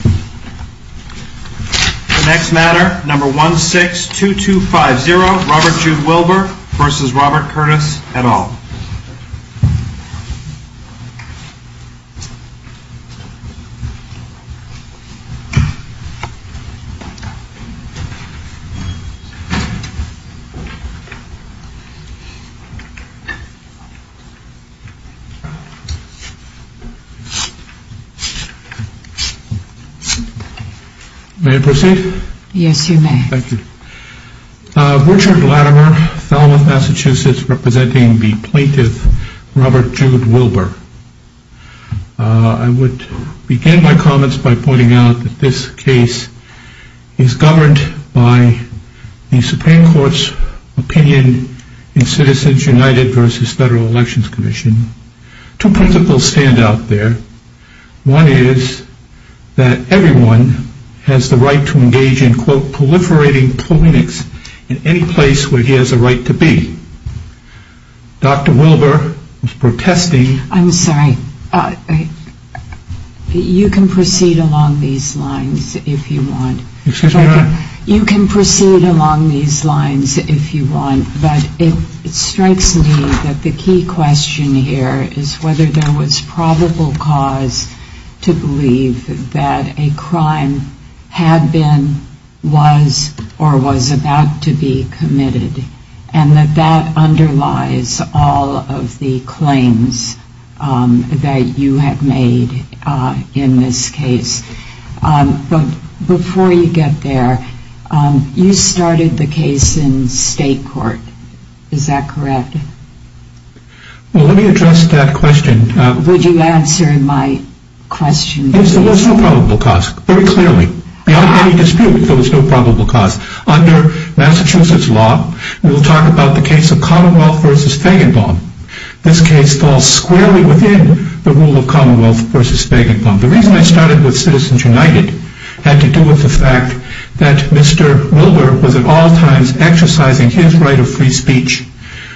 The next matter, number 162250, Robert Jude Wilber v. Robert Curtis et al. May I proceed? Yes, you may. Thank you. Richard Latimer, Falmouth, Massachusetts, representing the plaintiff, Robert Jude Wilber. I would begin my comments by pointing out that this case is governed by the Supreme Court's opinion in Citizens United v. Federal Elections Commission. Two principles stand out there. One is that everyone has the right to engage in, quote, proliferating politics in any place where he has a right to be. Dr. Wilber was protesting. I'm sorry. You can proceed along these lines if you want. Excuse me? You can proceed along these lines if you want. But it strikes me that the key question here is whether there was probable cause to believe that a crime had been, was, or was about to be committed, and that that underlies all of the claims that you have made in this case. But before you get there, you started the case in state court. Is that correct? Well, let me address that question. Would you answer my question? There was no probable cause, very clearly. Beyond any dispute, there was no probable cause. Under Massachusetts law, we'll talk about the case of Commonwealth v. Feigenbaum. This case falls squarely within the rule of Commonwealth v. Feigenbaum. The reason I started with Citizens United had to do with the fact that Mr. Wilber was at all times exercising his right of free speech,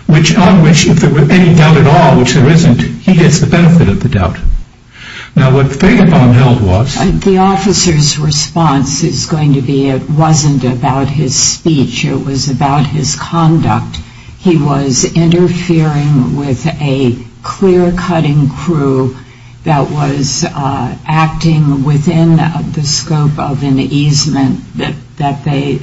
on which, if there were any doubt at all, which there isn't, he gets the benefit of the doubt. Now, what Feigenbaum held was— The officer's response is going to be it wasn't about his speech. It was about his conduct. He was interfering with a clear-cutting crew that was acting within the scope of an easement that they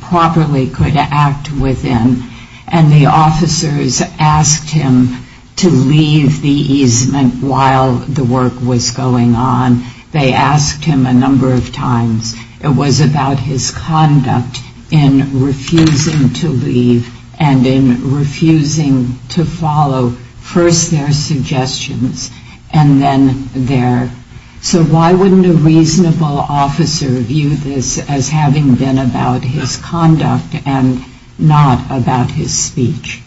properly could act within, and the officers asked him to leave the easement while the work was going on. They asked him a number of times. It was about his conduct in refusing to leave and in refusing to follow first their suggestions and then theirs. So why wouldn't a reasonable officer view this as having been about his conduct and not about his speech?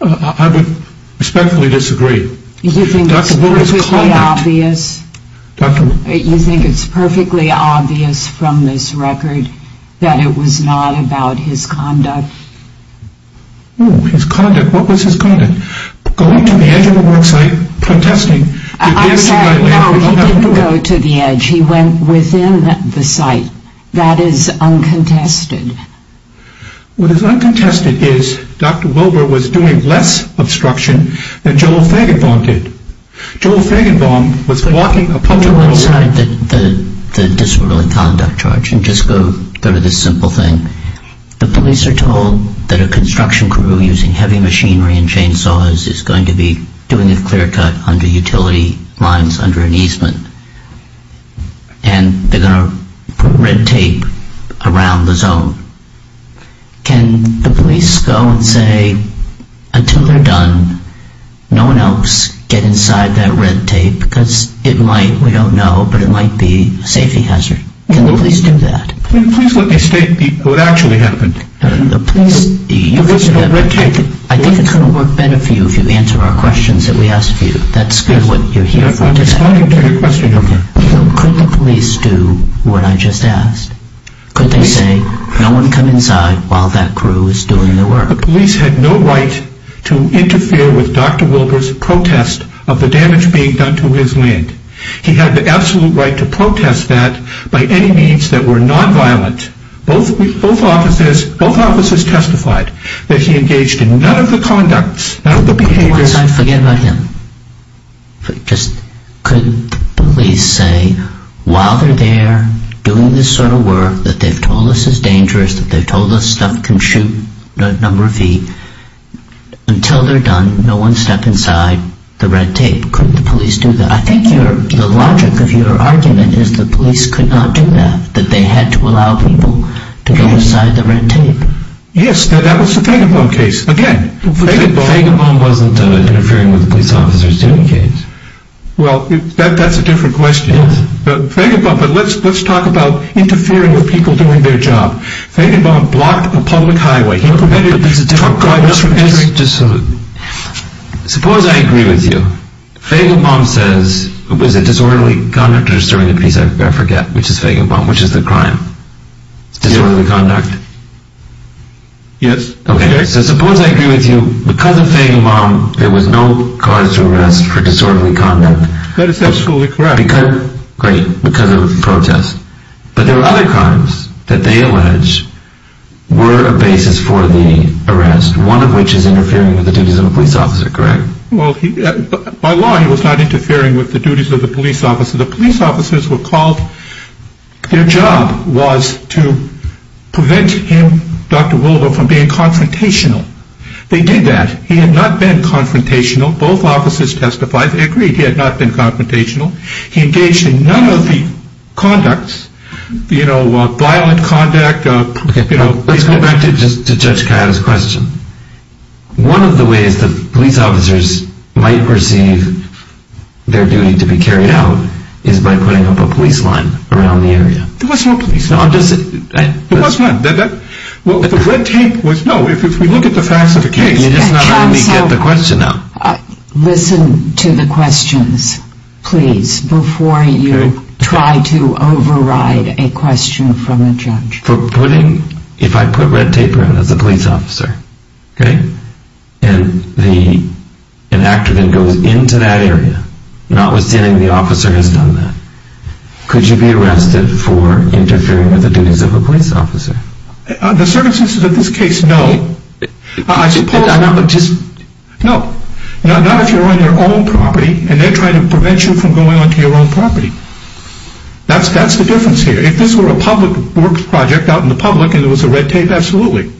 I respectfully disagree. You think it's perfectly obvious? You think it's perfectly obvious from this record that it was not about his conduct? Oh, his conduct. What was his conduct? Going to the edge of a work site, protesting— I'm sorry. No, he didn't go to the edge. He went within the site. That is uncontested. What is uncontested is Dr. Wilber was doing less obstruction than Joel Feigenbaum did. Joel Feigenbaum was walking a public road— To one side, the disorderly conduct charge, and just go to this simple thing. The police are told that a construction crew using heavy machinery and chainsaws is going to be doing a clear-cut under utility lines under an easement, and they're going to put red tape around the zone. Can the police go and say, until they're done, no one else get inside that red tape? Because it might, we don't know, but it might be a safety hazard. Can the police do that? Please let me state what actually happened. The police—I think it's going to work better for you if you answer our questions that we ask of you. That's good, what you're here for today. Could the police do what I just asked? Could they say, no one come inside while that crew is doing their work? The police had no right to interfere with Dr. Wilber's protest of the damage being done to his land. He had the absolute right to protest that by any means that were nonviolent. Both officers testified that he engaged in none of the conducts, none of the behaviors— Go inside, forget about him. Could the police say, while they're there doing this sort of work, that they've told us it's dangerous, that they've told us stuff can shoot a number of feet, until they're done, no one step inside the red tape. Could the police do that? I think the logic of your argument is the police could not do that, that they had to allow people to go inside the red tape. Yes, that was the Faginbaum case. Again, Faginbaum wasn't interfering with a police officer's student case. Well, that's a different question. Yes. Faginbaum, but let's talk about interfering with people doing their job. Faginbaum blocked a public highway. But there's a different problem. Suppose I agree with you. Faginbaum says, was it disorderly conduct or disturbing the peace? I forget. Which is Faginbaum, which is the crime? Disorderly conduct? Yes. Okay, so suppose I agree with you. Because of Faginbaum, there was no cause to arrest for disorderly conduct. That is absolutely correct. Great, because of the protest. But there were other crimes that they allege were a basis for the arrest, one of which is interfering with the duties of a police officer, correct? Well, by law, he was not interfering with the duties of the police officer. The police officers were called. Their job was to prevent him, Dr. Willoughby, from being confrontational. They did that. He had not been confrontational. Both officers testified. They agreed he had not been confrontational. He engaged in none of the conducts, you know, violent conduct, you know. Let's go back to Judge Kayada's question. One of the ways that police officers might receive their duty to be carried out is by putting up a police line around the area. There was no police line. There was none. The red tape was, no, if we look at the facts of the case. You're just not letting me get the question out. Counsel, listen to the questions, please, before you try to override a question from a judge. For putting, if I put red tape around as a police officer, okay, and an actor then goes into that area, notwithstanding the officer has done that, could you be arrested for interfering with the duties of a police officer? The circumstances of this case, no. I suppose I'm not just, no. Not if you're on your own property, and they're trying to prevent you from going onto your own property. That's the difference here. If this were a public works project out in the public and there was a red tape, absolutely.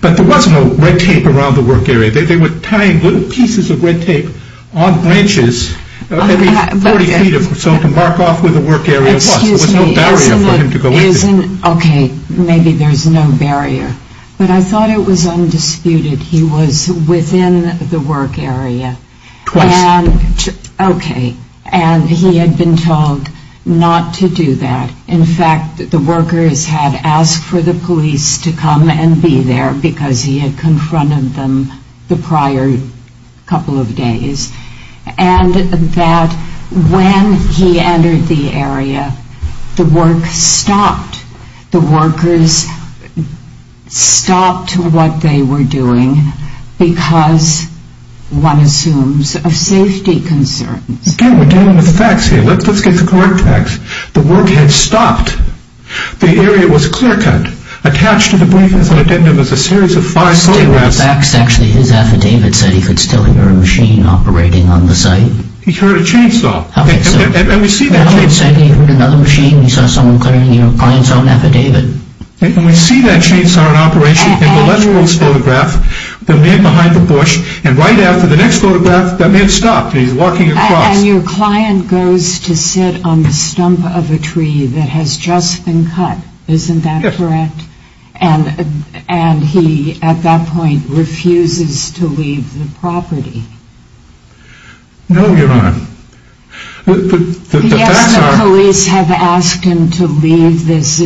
But there was no red tape around the work area. They were tying little pieces of red tape on branches, maybe 40 feet or so to mark off where the work area was. There was no barrier for him to go into. Okay, maybe there's no barrier. But I thought it was undisputed. He was within the work area. Twice. Okay. And he had been told not to do that. In fact, the workers had asked for the police to come and be there because he had confronted them the prior couple of days. And that when he entered the area, the work stopped. The workers stopped what they were doing because, one assumes, of safety concerns. Again, we're dealing with the facts here. Let's get the correct facts. The work had stopped. The area was clear-cut. Attached to the briefings on addendum is a series of five photographs. Actually, his affidavit said he could still hear a machine operating on the site. He heard a chainsaw. And we see that chainsaw. He heard another machine. He saw someone clearing your client's own affidavit. And we see that chainsaw in operation in the lettering of this photograph, the man behind the bush. And right after the next photograph, that man stopped and he's walking across. And your client goes to sit on the stump of a tree that has just been cut. Isn't that correct? Yes. And he, at that point, refuses to leave the property. No, Your Honor. The police have asked him to leave this.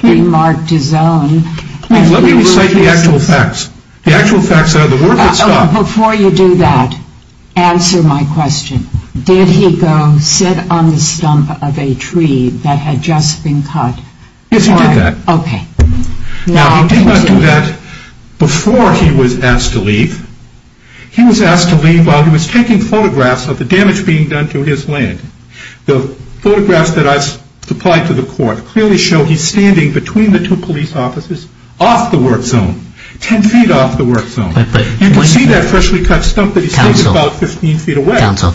He marked his own. Let me recite the actual facts. The actual facts are the work had stopped. Before you do that, answer my question. Did he go sit on the stump of a tree that had just been cut? Yes, he did that. Okay. Now, he did not do that before he was asked to leave. He was asked to leave while he was taking photographs of the damage being done to his land. The photographs that I supplied to the court clearly show he's standing between the two police officers off the work zone, ten feet off the work zone. You can see that freshly cut stump that he's taking about 15 feet away. Counsel.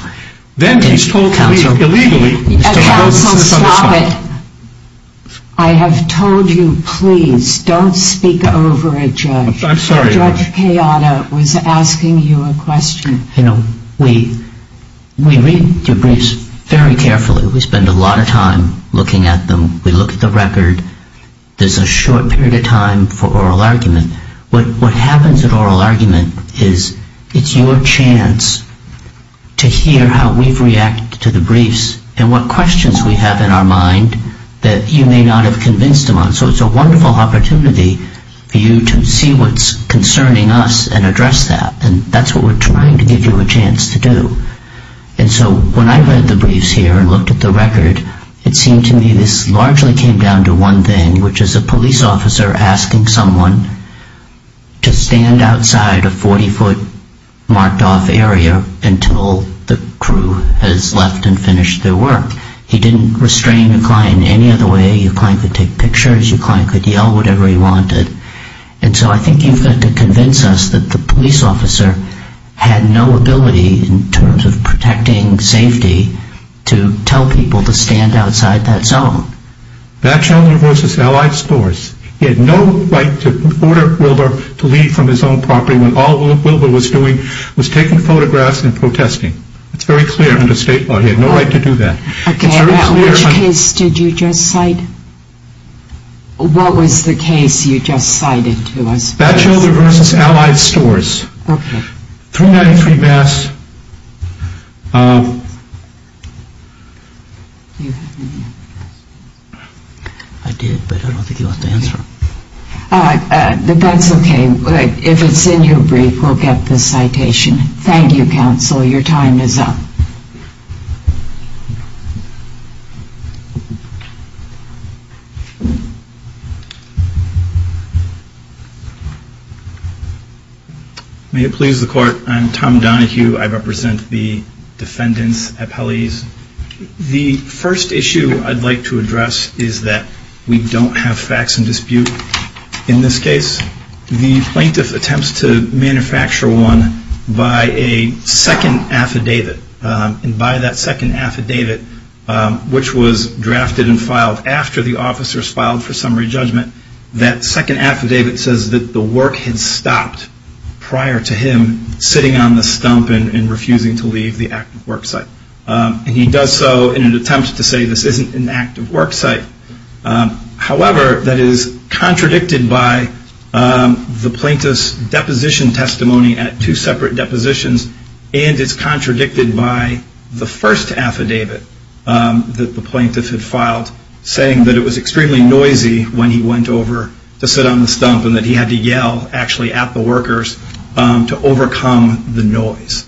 Then he's told to leave illegally. Counsel, stop it. I have told you, please, don't speak over a judge. I'm sorry. Judge Kayada was asking you a question. You know, we read debriefs very carefully. We spend a lot of time looking at them. We look at the record. There's a short period of time for oral argument. What happens at oral argument is it's your chance to hear how we've reacted to the briefs and what questions we have in our mind that you may not have convinced them on. So it's a wonderful opportunity for you to see what's concerning us and address that. And that's what we're trying to give you a chance to do. And so when I read the briefs here and looked at the record, it seemed to me this largely came down to one thing, which is a police officer asking someone to stand outside a 40-foot marked-off area until the crew has left and finished their work. He didn't restrain the client any other way. Your client could take pictures. Your client could yell whatever he wanted. And so I think you've got to convince us that the police officer had no ability, in terms of protecting safety, to tell people to stand outside that zone. Batchelder v. Allied Stores. He had no right to order Wilbur to leave from his own property when all Wilbur was doing was taking photographs and protesting. It's very clear under state law. He had no right to do that. Okay. Which case did you just cite? What was the case you just cited to us? Batchelder v. Allied Stores. Okay. 393 Bass. I did, but I don't think he wants to answer. That's okay. If it's in your brief, we'll get the citation. Thank you, counsel. Your time is up. May it please the Court. I'm Tom Donohue. I represent the defendant's appellees. The first issue I'd like to address is that we don't have facts in dispute in this case. The plaintiff attempts to manufacture one by a second affidavit. And by that second affidavit, which was drafted and filed after the officers filed for summary judgment, that second affidavit says that the work had stopped prior to him sitting on the stump and refusing to leave the active work site. And he does so in an attempt to say this isn't an active work site. However, that is contradicted by the plaintiff's deposition testimony at two separate depositions and is contradicted by the first affidavit that the plaintiff had filed, saying that it was extremely noisy when he went over to sit on the stump and that he had to yell actually at the workers to overcome the noise.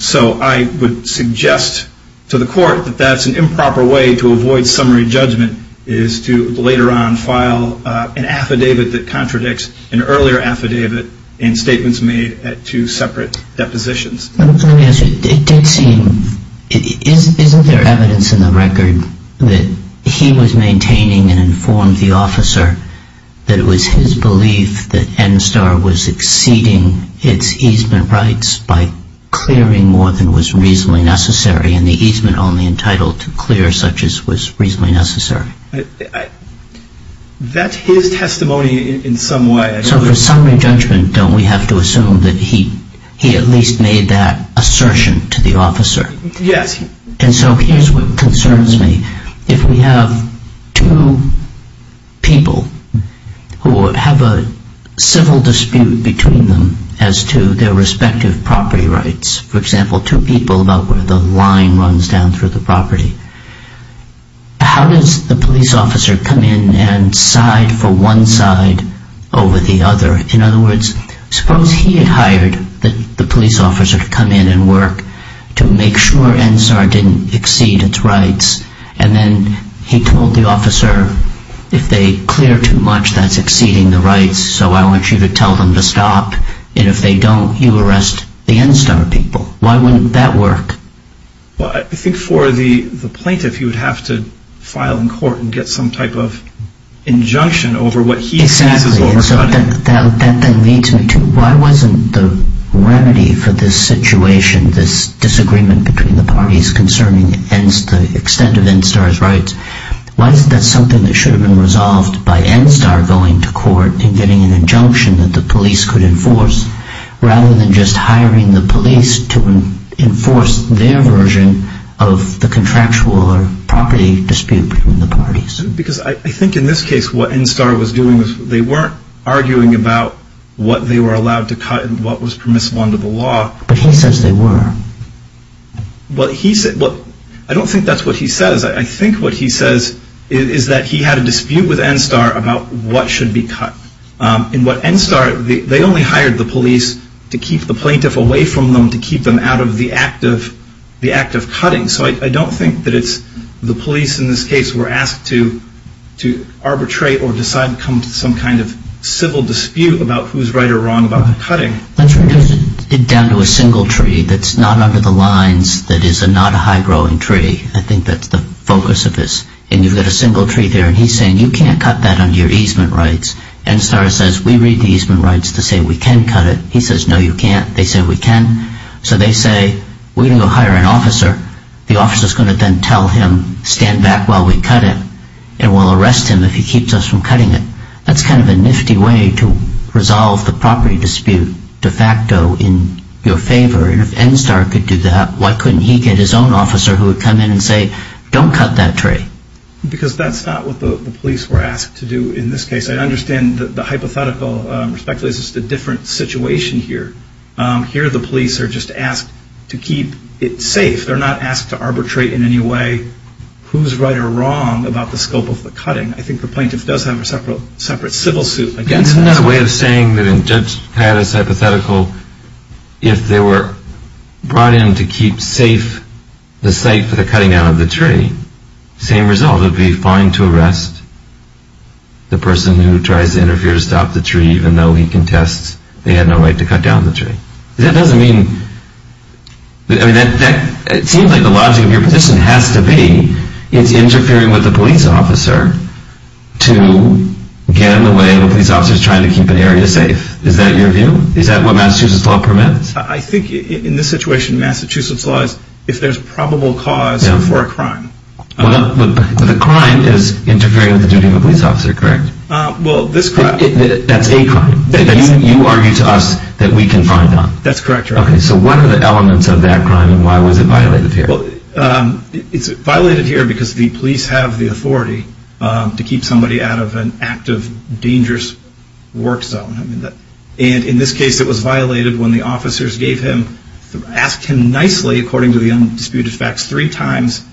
So I would suggest to the Court that that's an improper way to avoid summary judgment, is to later on file an affidavit that contradicts an earlier affidavit and statements made at two separate depositions. Let me ask you, it did seem, isn't there evidence in the record that he was maintaining and informed the officer that it was his belief that NSTAR was exceeding its easement rights by clearing more than was reasonably necessary and the easement only entitled to clear such as was reasonably necessary? That's his testimony in some way. So for summary judgment, don't we have to assume that he at least made that assertion to the officer? Yes. And so here's what concerns me. If we have two people who have a civil dispute between them as to their respective property rights, for example, two people about where the line runs down through the property, how does the police officer come in and side for one side over the other? In other words, suppose he had hired the police officer to come in and work to make sure NSTAR didn't exceed its rights and then he told the officer, if they clear too much, that's exceeding the rights, so I want you to tell them to stop and if they don't, you arrest the NSTAR people. Why wouldn't that work? I think for the plaintiff, you would have to file in court and get some type of injunction over what he sees as overcutting. Exactly. That then leads me to why wasn't the remedy for this situation, this disagreement between the parties concerning the extent of NSTAR's rights, why isn't that something that should have been resolved by NSTAR going to court and getting an injunction that the police could enforce rather than just hiring the police to enforce their version of the contractual or property dispute between the parties? Because I think in this case what NSTAR was doing, they weren't arguing about what they were allowed to cut and what was permissible under the law. But he says they were. I don't think that's what he says. I think what he says is that he had a dispute with NSTAR about what should be cut. In what NSTAR, they only hired the police to keep the plaintiff away from them to keep them out of the act of cutting. So I don't think that it's the police in this case were asked to arbitrate or decide to come to some kind of civil dispute about who's right or wrong about the cutting. That's right. It goes down to a single tree that's not under the lines that is not a high-growing tree. I think that's the focus of this. And you've got a single tree there and he's saying you can't cut that under your easement rights. NSTAR says we read the easement rights to say we can cut it. He says no you can't. They say we can. So they say we're going to go hire an officer. The officer's going to then tell him stand back while we cut it and we'll arrest him if he keeps us from cutting it. That's kind of a nifty way to resolve the property dispute de facto in your favor. And if NSTAR could do that, why couldn't he get his own officer who would come in and say don't cut that tree? Because that's not what the police were asked to do in this case. I understand that the hypothetical respectfully is just a different situation here. Here the police are just asked to keep it safe. They're not asked to arbitrate in any way who's right or wrong about the scope of the cutting. I think the plaintiff does have a separate civil suit against that. So if they were brought in to keep safe the site for the cutting down of the tree, same result would be fine to arrest the person who tries to interfere to stop the tree even though he contests they had no right to cut down the tree. That doesn't mean, I mean, it seems like the logic of your position has to be it's interfering with the police officer to get in the way of the police officers trying to keep an area safe. Is that your view? Is that what Massachusetts law permits? I think in this situation Massachusetts law is if there's probable cause for a crime. The crime is interfering with the duty of a police officer, correct? Well, this crime. That's a crime that you argue to us that we can find on. That's correct, Your Honor. Okay, so what are the elements of that crime and why was it violated here? It's violated here because the police have the authority to keep somebody out of an active, dangerous work zone. And in this case it was violated when the officers gave him, asked him nicely, according to the undisputed facts, three times,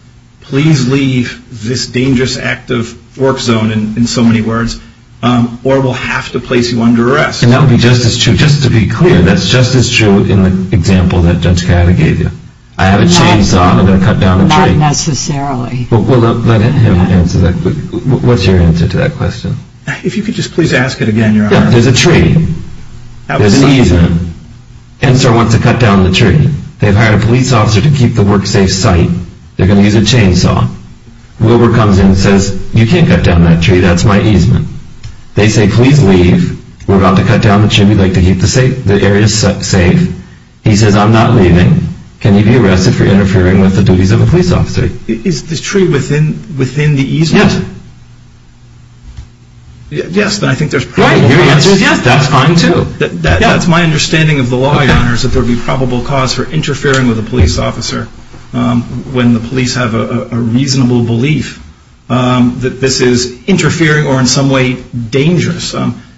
please leave this dangerous active work zone, in so many words, or we'll have to place you under arrest. And that would be just as true, just to be clear, that's just as true in the example that Judge Coyote gave you. I have a chainsaw and I'm going to cut down a tree. Not necessarily. Well, let him answer that. What's your answer to that question? If you could just please ask it again, Your Honor. Yeah, there's a tree. There's an easement. NSERW wants to cut down the tree. They've hired a police officer to keep the work safe site. They're going to use a chainsaw. Wilbur comes in and says, you can't cut down that tree, that's my easement. They say, please leave. We're about to cut down the tree, we'd like to keep the area safe. He says, I'm not leaving. Can you be arrested for interfering with the duties of a police officer? Is the tree within the easement? Yes. That's my understanding of the law, Your Honor, is that there would be probable cause for interfering with a police officer when the police have a reasonable belief that this is interfering or in some way dangerous.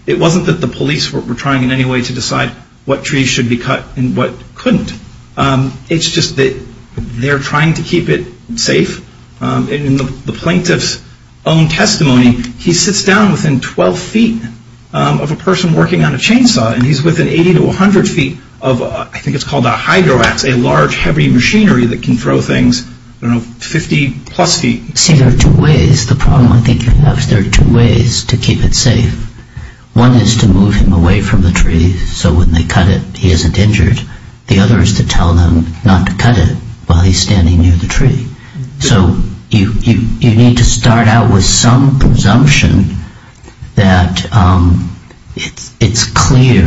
It wasn't that the police were trying in any way to decide what trees should be cut and what couldn't. It's just that they're trying to keep it safe. In the plaintiff's own testimony, he sits down within 12 feet of a person working on a chainsaw, and he's within 80 to 100 feet of, I think it's called a hydroax, a large heavy machinery that can throw things 50 plus feet. See, there are two ways. The problem I think you have is there are two ways to keep it safe. One is to move him away from the tree so when they cut it, he isn't injured. The other is to tell them not to cut it while he's standing near the tree. So you need to start out with some presumption that it's clear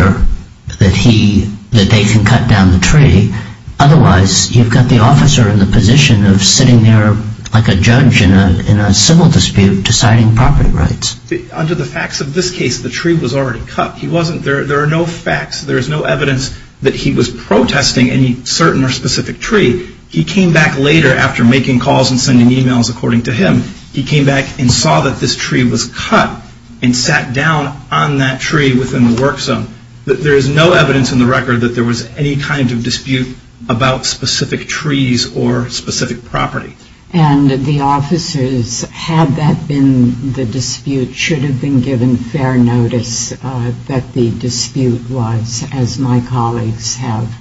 that they can cut down the tree. Otherwise, you've got the officer in the position of sitting there like a judge in a civil dispute deciding property rights. Under the facts of this case, the tree was already cut. There are no facts, there is no evidence that he was protesting any certain or specific tree. He came back later after making calls and sending e-mails, according to him, he came back and saw that this tree was cut and sat down on that tree within the work zone. There is no evidence in the record that there was any kind of dispute about specific trees or specific property. And the officers, had that been the dispute, should have been given fair notice that the dispute was, as my colleagues have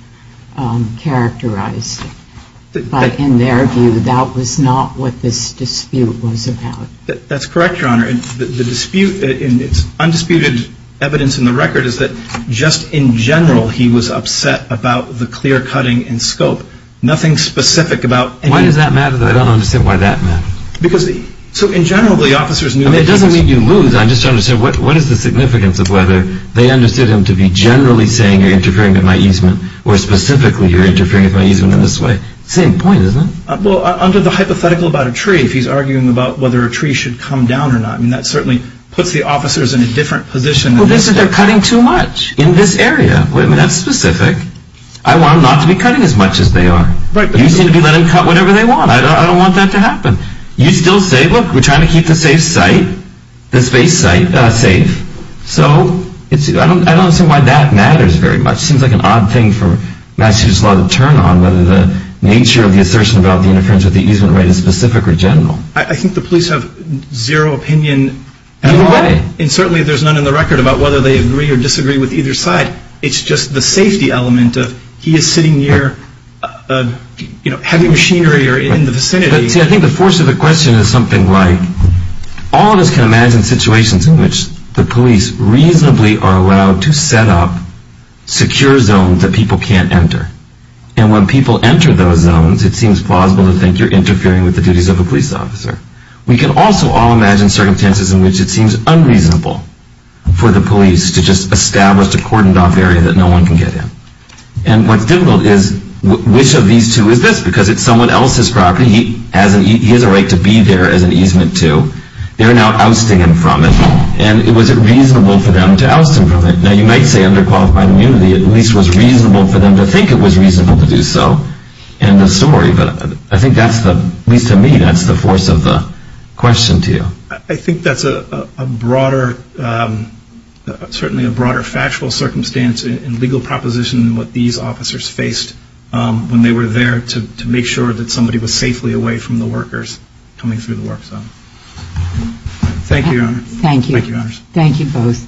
characterized it. But in their view, that was not what this dispute was about. That's correct, Your Honor. The dispute, and it's undisputed evidence in the record, is that just in general he was upset about the clear cutting in scope. Nothing specific about... Why does that matter that I don't understand why that matters? Because, so in general, the officers knew... I mean, it doesn't mean you lose. I'm just trying to say what is the significance of whether they understood him to be generally saying, you're interfering with my easement, or specifically, you're interfering with my easement in this way. Same point, isn't it? Well, under the hypothetical about a tree, if he's arguing about whether a tree should come down or not, I mean, that certainly puts the officers in a different position. Well, they said they're cutting too much in this area. That's specific. I want them not to be cutting as much as they are. You seem to be letting them cut whenever they want. I don't want that to happen. You still say, look, we're trying to keep the safe site, the space site, safe. So I don't understand why that matters very much. It seems like an odd thing for Massachusetts law to turn on, whether the nature of the assertion about the interference with the easement right is specific or general. I think the police have zero opinion. No way. And certainly there's none in the record about whether they agree or disagree with either side. It's just the safety element of he is sitting near heavy machinery or in the vicinity. See, I think the force of the question is something like, all of us can imagine situations in which the police reasonably are allowed to set up secure zones that people can't enter. And when people enter those zones, it seems plausible to think you're interfering with the duties of a police officer. We can also all imagine circumstances in which it seems unreasonable for the police to just establish a cordoned off area that no one can get in. And what's difficult is, which of these two is this? Because it's someone else's property. He has a right to be there as an easement to. They're now ousting him from it. And was it reasonable for them to oust him from it? Now, you might say under qualified immunity, at least it was reasonable for them to think it was reasonable to do so. End of story. But I think that's the, at least to me, that's the force of the question to you. I think that's a broader, certainly a broader factual circumstance in legal proposition than what these officers faced when they were there to make sure that somebody was safely away from the workers coming through the work zone. Thank you, Your Honor. Thank you. Thank you both.